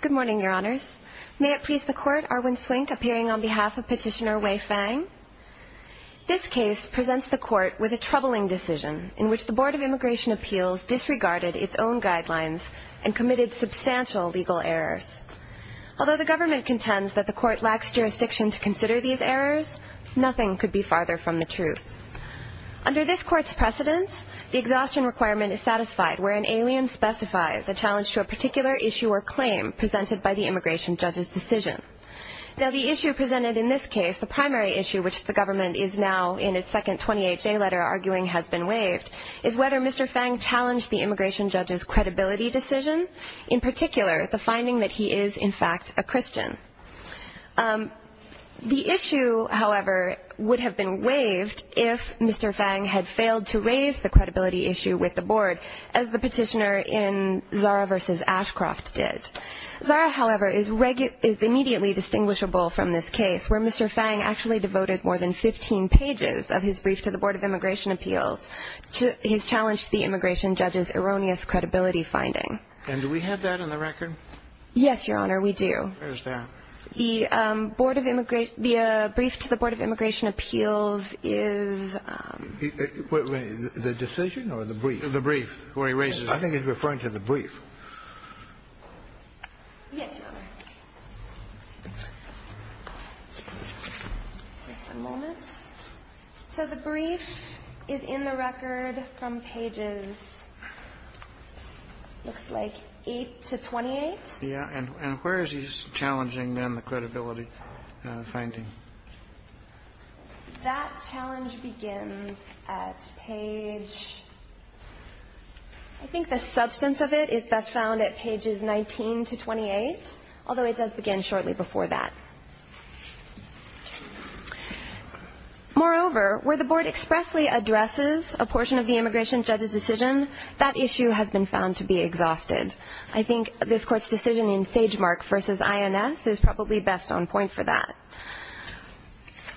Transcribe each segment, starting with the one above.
Good morning, Your Honors. May it please the Court, Arwin Swink appearing on behalf of Petitioner Wei Fang. This case presents the Court with a troubling decision in which the Board of Immigration Appeals disregarded its own guidelines and committed substantial legal errors. Although the government contends that the Court lacks jurisdiction to consider these errors, nothing could be farther from the truth. Under this Court's precedence, the exhaustion requirement is satisfied where an alien specifies a challenge to a particular issue or claim presented by the immigration judge's decision. Now the issue presented in this case, the primary issue which the government is now in its second 28-day letter arguing has been waived, is whether Mr. Fang challenged the immigration judge's credibility decision, in particular the finding that he is, in fact, a Christian. The issue, however, would have been waived if Mr. Fang had failed to raise the credibility issue with the Board, as the petitioner in Zara v. Ashcroft did. Zara, however, is immediately distinguishable from this case, where Mr. Fang actually devoted more than 15 pages of his brief to the Board of Immigration Appeals. He's challenged the immigration judge's erroneous credibility finding. And do we have that on the record? Yes, Your Honor, we do. Where is that? The Board of Immigration – the brief to the Board of Immigration Appeals is... The decision or the brief? The brief, where he raises... I think he's referring to the brief. Yes, Your Honor. Just a moment. So the brief is in the record from pages, looks like, 8 to 28. Yes, and where is he challenging, then, the credibility finding? That challenge begins at page – I think the substance of it is best found at pages 19 to 28, although it does begin shortly before that. Moreover, where the Board expressly addresses a portion of the immigration judge's decision, that issue has been found to be exhausted. I think this Court's decision in Sagemark v. INS is probably best on point for that.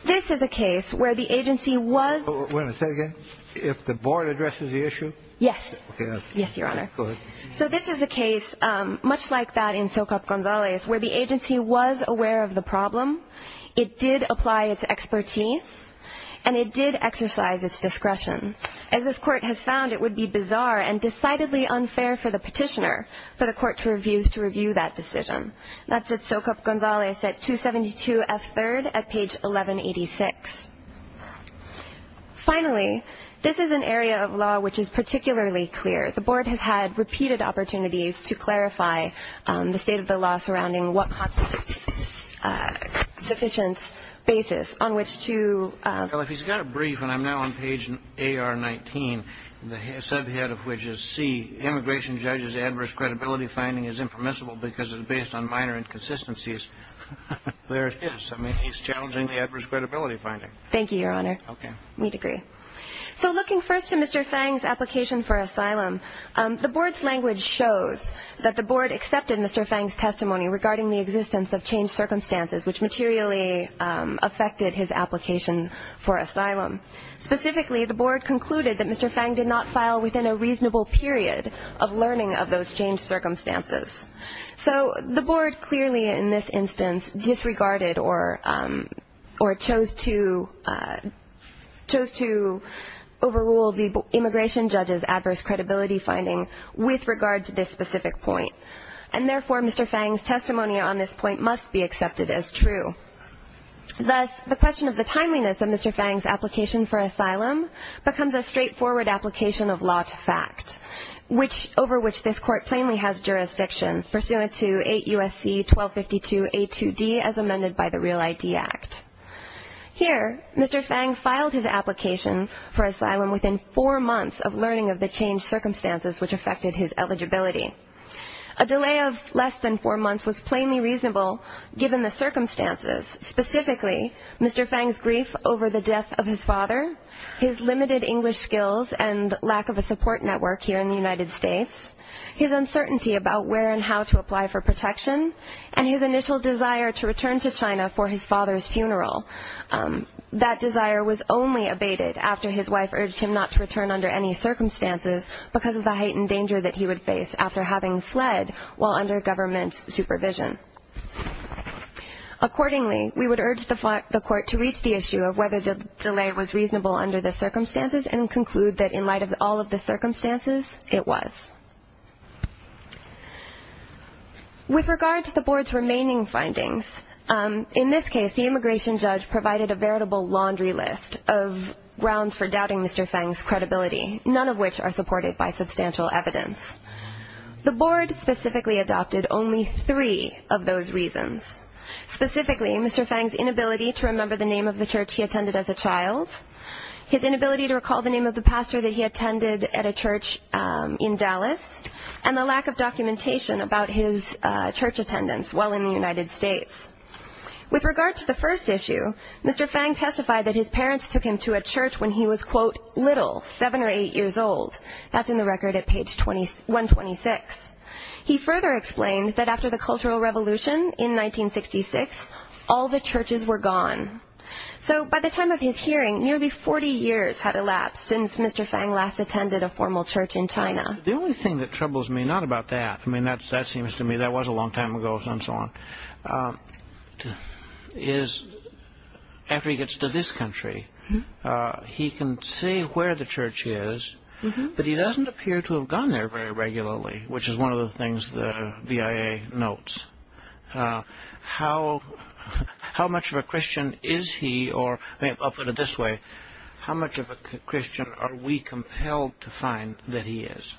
This is a case where the agency was... Wait a second. If the Board addresses the issue? Yes. Yes, Your Honor. Go ahead. So this is a case much like that in Socap Gonzalez, where the agency was aware of the problem. It did apply its expertise, and it did exercise its discretion. As this Court has found, it would be bizarre and decidedly unfair for the petitioner, for the Court to review that decision. That's at Socap Gonzalez at 272 F. 3rd at page 1186. Finally, this is an area of law which is particularly clear. The Board has had repeated opportunities to clarify the state of the law surrounding what constitutes sufficient basis on which to... Well, if he's got a brief, and I'm now on page AR 19, the subhead of which is C, immigration judge's adverse credibility finding is impermissible because it is based on minor inconsistencies. There it is. I mean, he's challenging the adverse credibility finding. Thank you, Your Honor. Okay. We'd agree. So looking first to Mr. Fang's application for asylum, the Board's language shows that the Board accepted Mr. Fang's testimony regarding the existence of changed circumstances, which materially affected his application for asylum. Specifically, the Board concluded that Mr. Fang did not file within a reasonable period of learning of those changed circumstances. So the Board clearly in this instance disregarded or chose to overrule the immigration judge's adverse credibility finding with regard to this specific point. And therefore, Mr. Fang's testimony on this point must be accepted as true. Thus, the question of the timeliness of Mr. Fang's application for asylum becomes a straightforward application of law to fact, over which this Court plainly has jurisdiction pursuant to 8 U.S.C. 1252 A2D as amended by the Real ID Act. Here, Mr. Fang filed his application for asylum within four months of learning of the changed circumstances which affected his eligibility. A delay of less than four months was plainly reasonable given the circumstances. Specifically, Mr. Fang's grief over the death of his father, his limited English skills and lack of a support network here in the United States, his uncertainty about where and how to apply for protection, and his initial desire to return to China for his father's funeral. That desire was only abated after his wife urged him not to return under any circumstances because of the heightened danger that he would face after having fled while under government supervision. Accordingly, we would urge the Court to reach the issue of whether the delay was reasonable under the circumstances and conclude that in light of all of the circumstances, it was. With regard to the Board's remaining findings, in this case, the immigration judge provided a veritable laundry list of grounds for doubting Mr. Fang's credibility, none of which are supported by substantial evidence. The Board specifically adopted only three of those reasons. Specifically, Mr. Fang's inability to remember the name of the church he attended as a child, his inability to recall the name of the pastor that he attended at a church in Dallas, and the lack of documentation about his church attendance while in the United States. With regard to the first issue, Mr. Fang testified that his parents took him to a church when he was, quote, little, seven or eight years old. That's in the record at page 126. He further explained that after the Cultural Revolution in 1966, all the churches were gone. So by the time of his hearing, nearly 40 years had elapsed since Mr. Fang last attended a formal church in China. The only thing that troubles me, not about that, I mean, that seems to me that was a long time ago and so on, is after he gets to this country, he can see where the church is, but he doesn't appear to have gone there very regularly, which is one of the things the BIA notes. How much of a Christian is he, or I'll put it this way, how much of a Christian are we compelled to find that he is?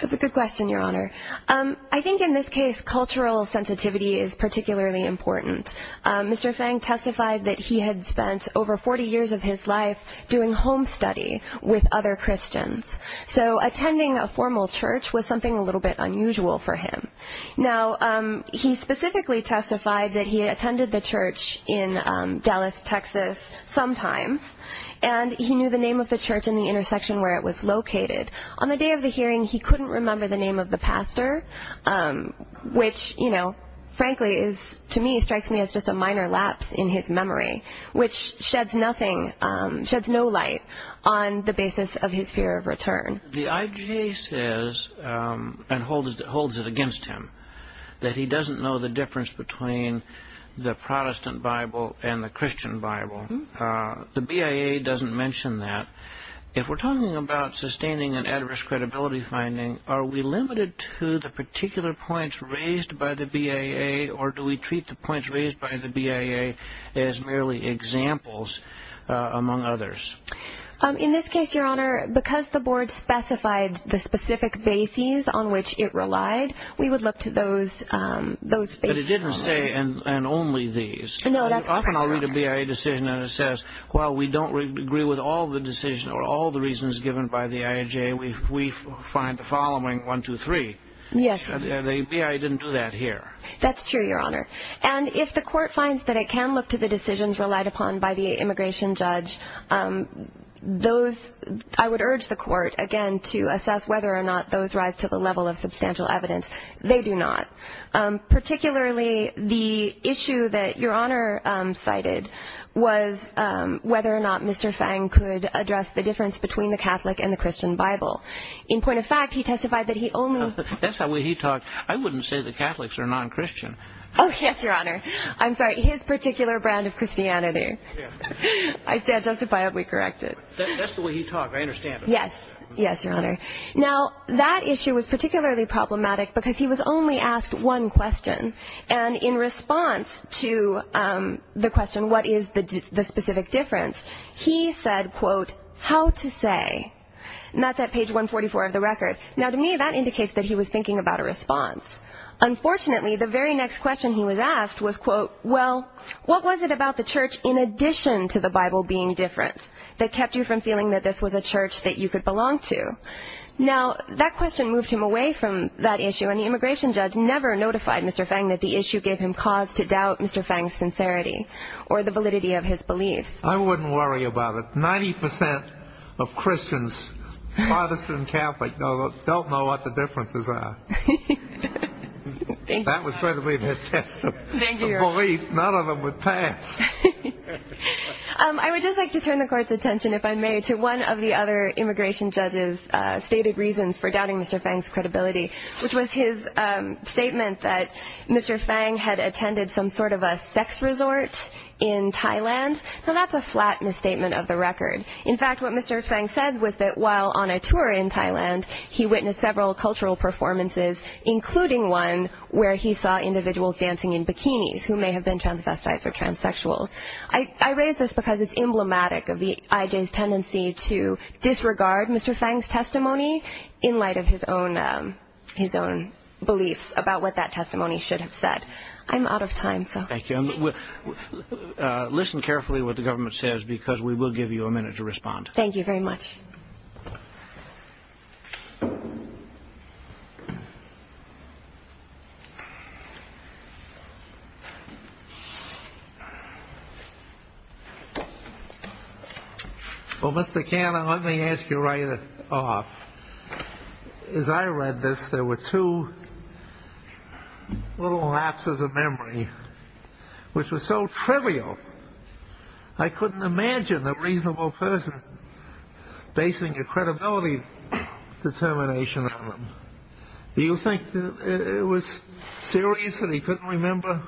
That's a good question, Your Honor. I think in this case, cultural sensitivity is particularly important. Mr. Fang testified that he had spent over 40 years of his life doing home study with other Christians. So attending a formal church was something a little bit unusual for him. Now, he specifically testified that he attended the church in Dallas, Texas, sometimes, and he knew the name of the church and the intersection where it was located. On the day of the hearing, he couldn't remember the name of the pastor, which, frankly, to me strikes me as just a minor lapse in his memory, which sheds no light on the basis of his fear of return. The IJA says, and holds it against him, that he doesn't know the difference between the Protestant Bible and the Christian Bible. The BIA doesn't mention that. If we're talking about sustaining an adverse credibility finding, are we limited to the particular points raised by the BIA, or do we treat the points raised by the BIA as merely examples among others? In this case, Your Honor, because the board specified the specific bases on which it relied, we would look to those bases only. But it didn't say, and only these. No, that's correct, Your Honor. Often I'll read a BIA decision and it says, while we don't agree with all the decisions or all the reasons given by the IJA, we find the following, one, two, three. Yes. The BIA didn't do that here. That's true, Your Honor. And if the court finds that it can look to the decisions relied upon by the immigration judge, I would urge the court, again, to assess whether or not those rise to the level of substantial evidence. They do not. Particularly the issue that Your Honor cited was whether or not Mr. Fang could address the difference between the Catholic and the Christian Bible. In point of fact, he testified that he only That's not the way he talked. I wouldn't say the Catholics are non-Christian. Oh, yes, Your Honor. I'm sorry. His particular brand of Christianity. I stand justified. We correct it. That's the way he talked. I understand. Yes. Yes, Your Honor. Now, that issue was particularly problematic because he was only asked one question. And in response to the question, what is the specific difference, he said, quote, how to say. And that's at page 144 of the record. Now, to me, that indicates that he was thinking about a response. Unfortunately, the very next question he was asked was, quote, well, what was it about the church in addition to the Bible being different that kept you from feeling that this was a church that you could belong to? Now, that question moved him away from that issue. And the immigration judge never notified Mr. Fang that the issue gave him cause to doubt Mr. Fang's sincerity or the validity of his beliefs. I wouldn't worry about it. Ninety percent of Christians, Protestant and Catholic, don't know what the differences are. Thank you, Your Honor. That was probably the test of belief. None of them would pass. I would just like to turn the court's attention, if I may, to one of the other immigration judge's stated reasons for doubting Mr. Fang's credibility, which was his statement that Mr. Fang had attended some sort of a sex resort in Thailand. Now, that's a flat misstatement of the record. In fact, what Mr. Fang said was that while on a tour in Thailand, he witnessed several cultural performances, including one where he saw individuals dancing in bikinis who may have been transvestites or transsexuals. I raise this because it's emblematic of the IJ's tendency to disregard Mr. Fang's testimony in light of his own beliefs about what that testimony should have said. I'm out of time. Thank you. Listen carefully to what the government says because we will give you a minute to respond. Thank you very much. Well, Mr. Canna, let me ask you right off. As I read this, there were two little lapses of memory, which was so trivial. I couldn't imagine a reasonable person basing a credibility determination on them. Do you think it was serious that he couldn't remember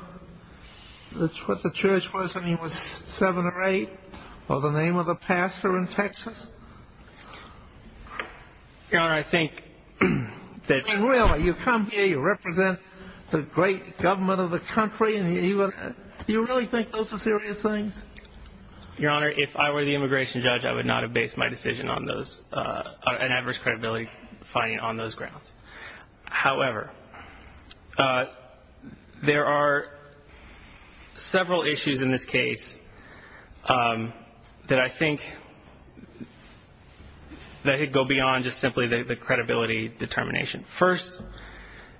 what the church was when he was seven or eight or the name of the pastor in Texas? Your Honor, I think that. Really, you come here, you represent the great government of the country, and you really think those are serious things? Your Honor, if I were the immigration judge, I would not have based my decision on an adverse credibility finding on those grounds. However, there are several issues in this case that I think go beyond just simply the credibility determination. First,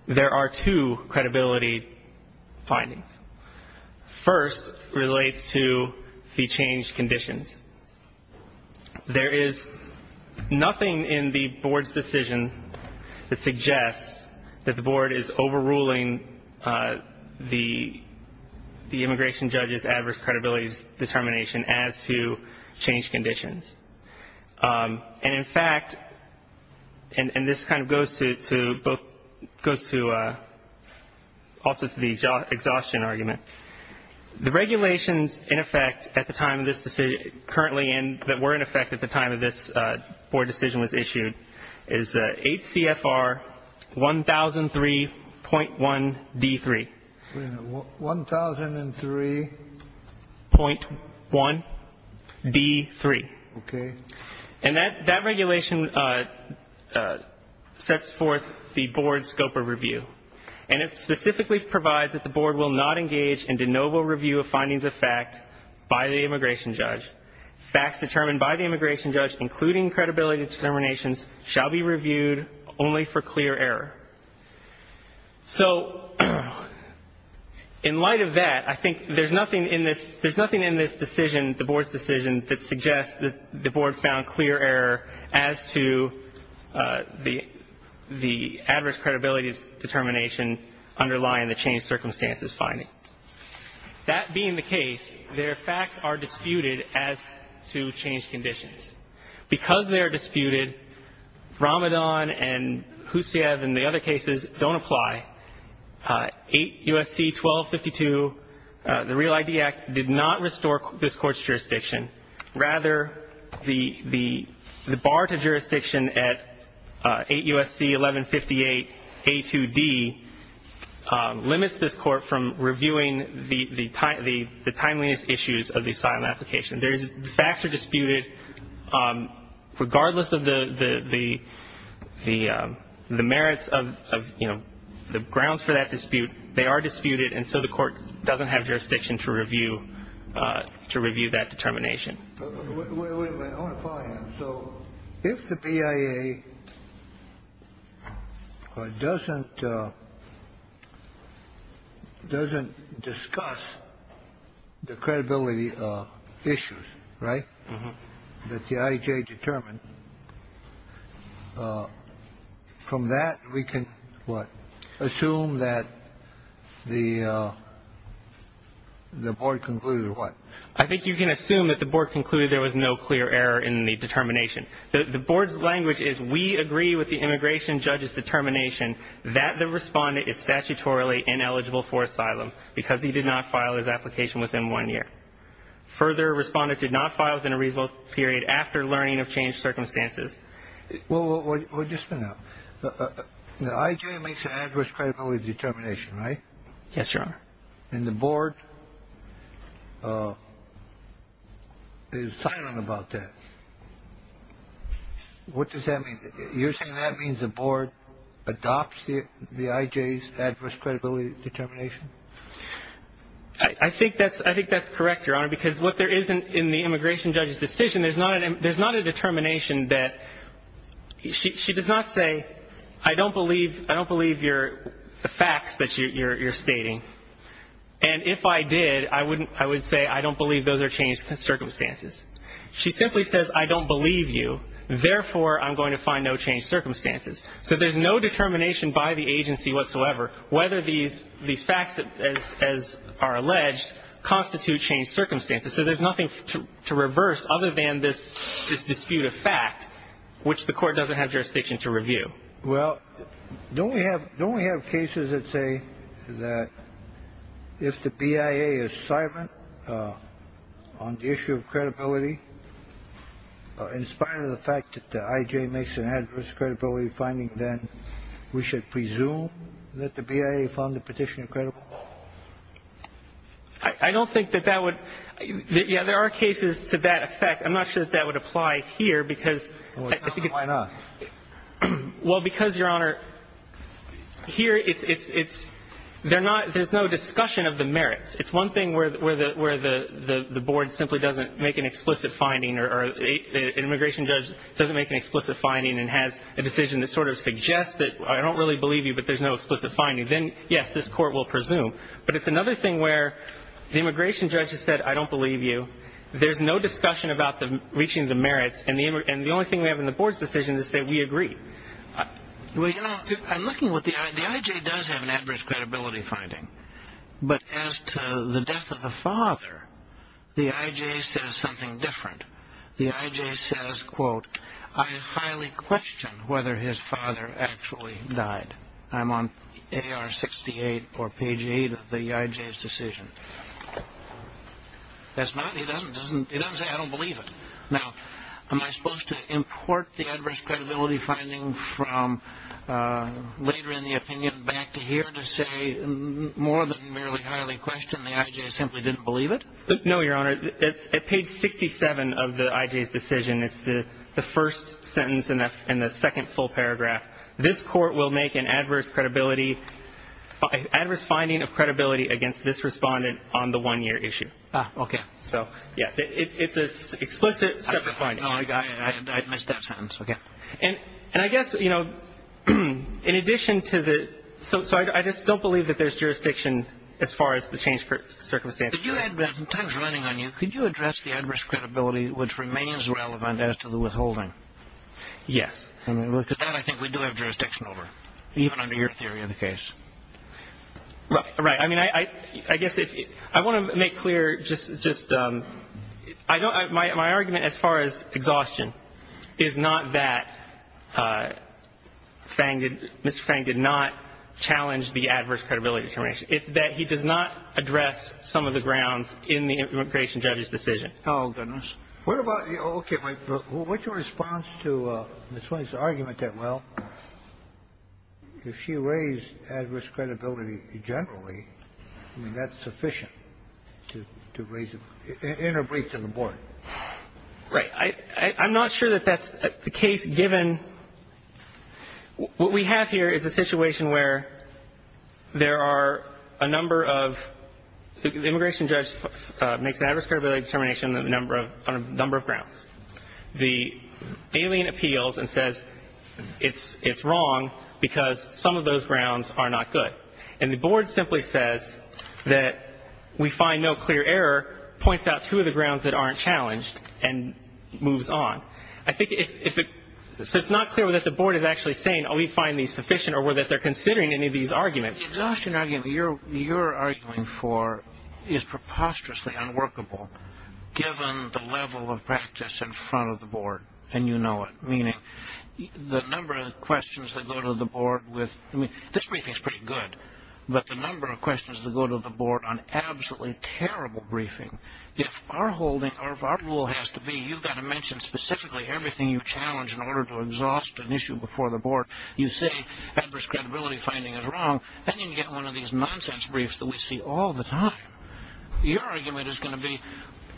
there are two credibility findings. First relates to the changed conditions. There is nothing in the board's decision that suggests that the board is overruling the immigration judge's adverse credibility determination as to changed conditions. And, in fact, and this kind of goes to both goes to also to the exhaustion argument, the regulations in effect at the time of this decision currently and that were in effect at the time of this board decision was issued is 8 CFR 1003.1 D3. 1003.1 D3. Okay. And that regulation sets forth the board's scope of review, and it specifically provides that the board will not engage in de novo review of findings of fact by the immigration judge. Facts determined by the immigration judge, including credibility determinations, shall be reviewed only for clear error. So in light of that, I think there's nothing in this decision, the board's decision, that suggests that the board found clear error as to the adverse credibility determination underlying the changed circumstances finding. That being the case, their facts are disputed as to changed conditions. Because they are disputed, Ramadan and Husayev and the other cases don't apply. 8 U.S.C. 1252, the Real ID Act, did not restore this court's jurisdiction. Rather, the bar to jurisdiction at 8 U.S.C. 1158 A2D limits this court from reviewing the timeliness issues of the asylum application. The facts are disputed regardless of the merits of, you know, the grounds for that dispute. They are disputed, and so the court doesn't have jurisdiction to review that determination. So if the BIA doesn't discuss the credibility issues, right, that the IJ determined, from that we can what? Assume that the board concluded what? I think you can assume that the board concluded there was no clear error in the determination. The board's language is we agree with the immigration judge's determination that the respondent is statutorily ineligible for asylum because he did not file his application within one year. Further, respondent did not file within a reasonable period after learning of changed circumstances. Well, just a minute. The IJ makes an adverse credibility determination, right? Yes, Your Honor. And the board is silent about that. What does that mean? You're saying that means the board adopts the IJ's adverse credibility determination? I think that's correct, Your Honor, because what there is in the immigration judge's decision, there's not a determination that she does not say I don't believe your facts that you're stating. And if I did, I would say I don't believe those are changed circumstances. She simply says I don't believe you, therefore I'm going to find no changed circumstances. So there's no determination by the agency whatsoever whether these facts, as are alleged, constitute changed circumstances. So there's nothing to reverse other than this dispute of fact, which the court doesn't have jurisdiction to review. Well, don't we have cases that say that if the BIA is silent on the issue of credibility, in spite of the fact that the IJ makes an adverse credibility finding, then we should presume that the BIA found the petitioner credible? I don't think that that would – yeah, there are cases to that effect. I'm not sure that that would apply here because I think it's – Well, why not? Well, because, Your Honor, here it's – they're not – there's no discussion of the merits. It's one thing where the board simply doesn't make an explicit finding or an immigration judge doesn't make an explicit finding and has a decision that sort of suggests that I don't really believe you, but there's no explicit finding. Then, yes, this court will presume. But it's another thing where the immigration judge has said I don't believe you, there's no discussion about reaching the merits, and the only thing we have in the board's decision is to say we agree. Well, you know, I'm looking what the – the IJ does have an adverse credibility finding. But as to the death of the father, the IJ says something different. The IJ says, quote, I highly question whether his father actually died. I'm on AR 68 or page 8 of the IJ's decision. That's not – he doesn't say I don't believe it. Now, am I supposed to import the adverse credibility finding from later in the opinion back to here to say more than merely highly question? The IJ simply didn't believe it? No, Your Honor. It's at page 67 of the IJ's decision. It's the first sentence in the second full paragraph. This court will make an adverse credibility – adverse finding of credibility against this respondent on the one-year issue. Ah, okay. So, yeah, it's an explicit separate finding. I missed that sentence. Okay. And I guess, you know, in addition to the – so I just don't believe that there's jurisdiction as far as the change for circumstances. Could you – time's running on you. Could you address the adverse credibility which remains relevant as to the withholding? Yes. Because that, I think, we do have jurisdiction over, even under your theory of the case. Right. I mean, I guess if – I want to make clear just – I don't – my argument as far as exhaustion is not that Fang did – Mr. Fang did not challenge the adverse credibility determination. It's that he does not address some of the grounds in the immigration judge's decision. Oh, goodness. What about – okay. What's your response to Ms. Williams' argument that, well, if she raised adverse credibility generally, I mean, that's sufficient to raise – in her brief to the board? Right. I'm not sure that that's the case, given what we have here is a situation where there are a number of – the immigration judge makes an adverse credibility determination on a number of grounds. The alien appeals and says it's wrong because some of those grounds are not good. And the board simply says that we find no clear error, points out two of the grounds that aren't challenged, and moves on. I think if – so it's not clear whether the board is actually saying, oh, we find these sufficient, or whether they're considering any of these arguments. The exhaustion argument you're arguing for is preposterously unworkable, given the level of practice in front of the board, and you know it, meaning the number of questions that go to the board with – I mean, this briefing is pretty good, but the number of questions that go to the board on absolutely terrible briefing. If our holding – or if our rule has to be you've got to mention specifically everything you challenge in order to exhaust an issue before the board. You say adverse credibility finding is wrong, and then you get one of these nonsense briefs that we see all the time. Your argument is going to be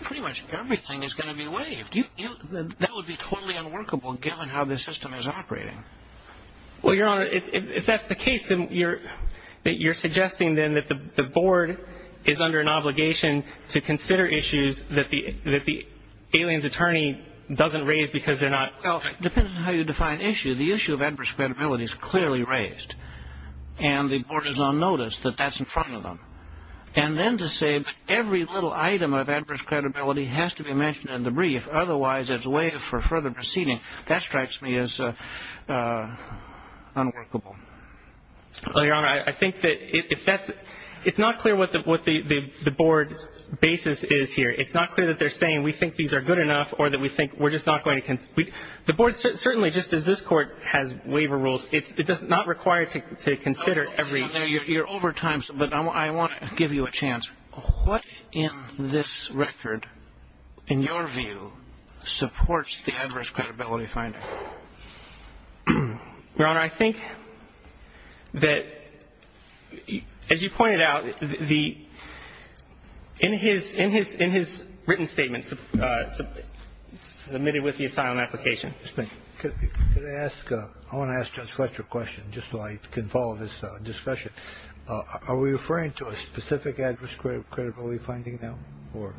pretty much everything is going to be waived. That would be totally unworkable, given how the system is operating. Well, Your Honor, if that's the case, then you're suggesting then that the board is under an obligation to consider issues that the alien's attorney doesn't raise because they're not – Well, it depends on how you define issue. The issue of adverse credibility is clearly raised, and the board is on notice that that's in front of them. And then to say every little item of adverse credibility has to be mentioned in the brief, otherwise as a way for further proceeding, that strikes me as unworkable. Well, Your Honor, I think that if that's – it's not clear what the board's basis is here. It's not clear that they're saying we think these are good enough or that we think we're just not going to – the board certainly, just as this Court has waiver rules, it's not required to consider every – You're over time, but I want to give you a chance. What in this record, in your view, supports the adverse credibility finding? Your Honor, I think that, as you pointed out, the – in his written statements submitted with the asylum application – Could I ask – I want to ask Judge Fletcher a question just so I can follow this discussion. Are we referring to a specific adverse credibility finding now, or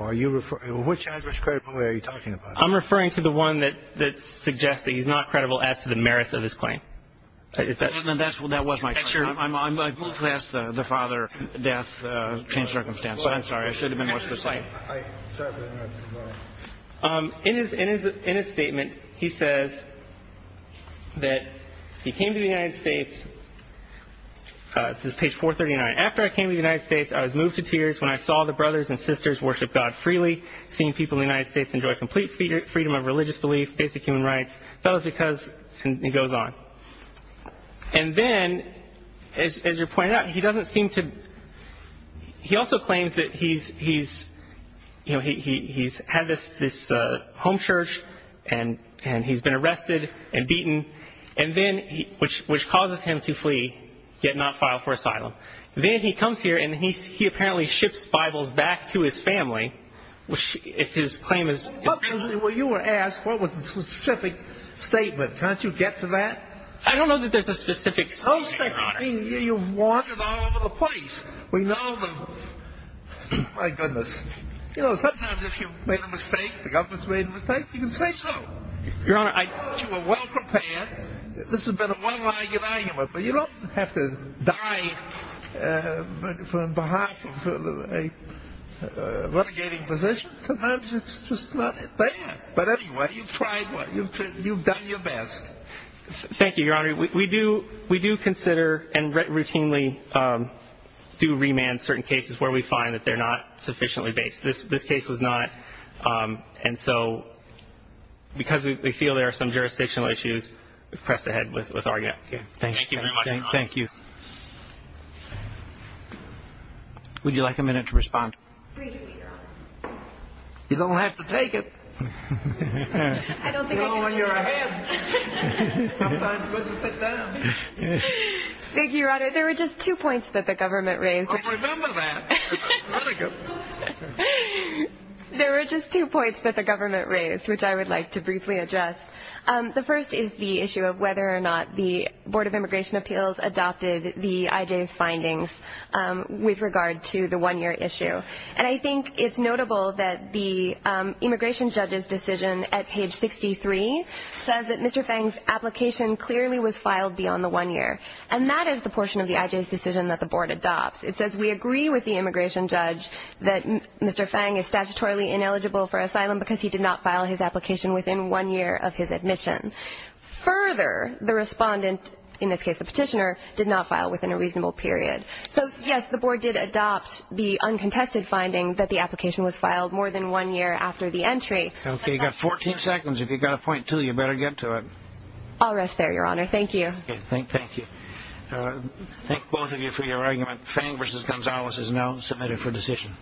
are you – which adverse credibility are you talking about? I'm referring to the one that suggests that he's not credible as to the merits of his claim. Is that – Well, then that's – that was my question. I'm – I've moved past the father, death, changed circumstances. I'm sorry. I should have been more specific. In his – in his statement, he says that he came to the United States – this is page 439. After I came to the United States, I was moved to tears when I saw the brothers and sisters seeing people in the United States enjoy complete freedom of religious belief, basic human rights. That was because – and he goes on. And then, as you pointed out, he doesn't seem to – he also claims that he's – you know, he's had this home church and he's been arrested and beaten, and then – which causes him to flee, yet not file for asylum. Then he comes here and he apparently ships Bibles back to his family if his claim is – Well, you were asked what was the specific statement. Can't you get to that? I don't know that there's a specific statement, Your Honor. Okay. I mean, you've wandered all over the place. We know the – my goodness. You know, sometimes if you've made a mistake, the government's made a mistake, you can say so. Your Honor, I – But on behalf of a renegading position, sometimes it's just not that bad. But anyway, you've tried – you've done your best. Thank you, Your Honor. We do consider and routinely do remand certain cases where we find that they're not sufficiently based. This case was not. And so because we feel there are some jurisdictional issues, we've pressed ahead with our – Thank you very much, Your Honor. Thank you. Would you like a minute to respond? Please do, Your Honor. You don't have to take it. I don't think I can take it. You know, when you're ahead, sometimes you have to sit down. Thank you, Your Honor. There were just two points that the government raised. I'll remember that. Very good. There were just two points that the government raised, which I would like to briefly address. The first is the issue of whether or not the Board of Immigration Appeals adopted the IJ's findings with regard to the one-year issue. And I think it's notable that the immigration judge's decision at page 63 says that Mr. Fang's application clearly was filed beyond the one year. And that is the portion of the IJ's decision that the Board adopts. It says we agree with the immigration judge that Mr. Fang is statutorily ineligible for asylum because he did not file his application within one year of his admission. Further, the respondent, in this case the petitioner, did not file within a reasonable period. So, yes, the Board did adopt the uncontested finding that the application was filed more than one year after the entry. Okay, you've got 14 seconds. If you've got a point, too, you better get to it. I'll rest there, Your Honor. Thank you. Thank you. Thank both of you for your argument. Fang v. Gonzalez is now submitted for decision.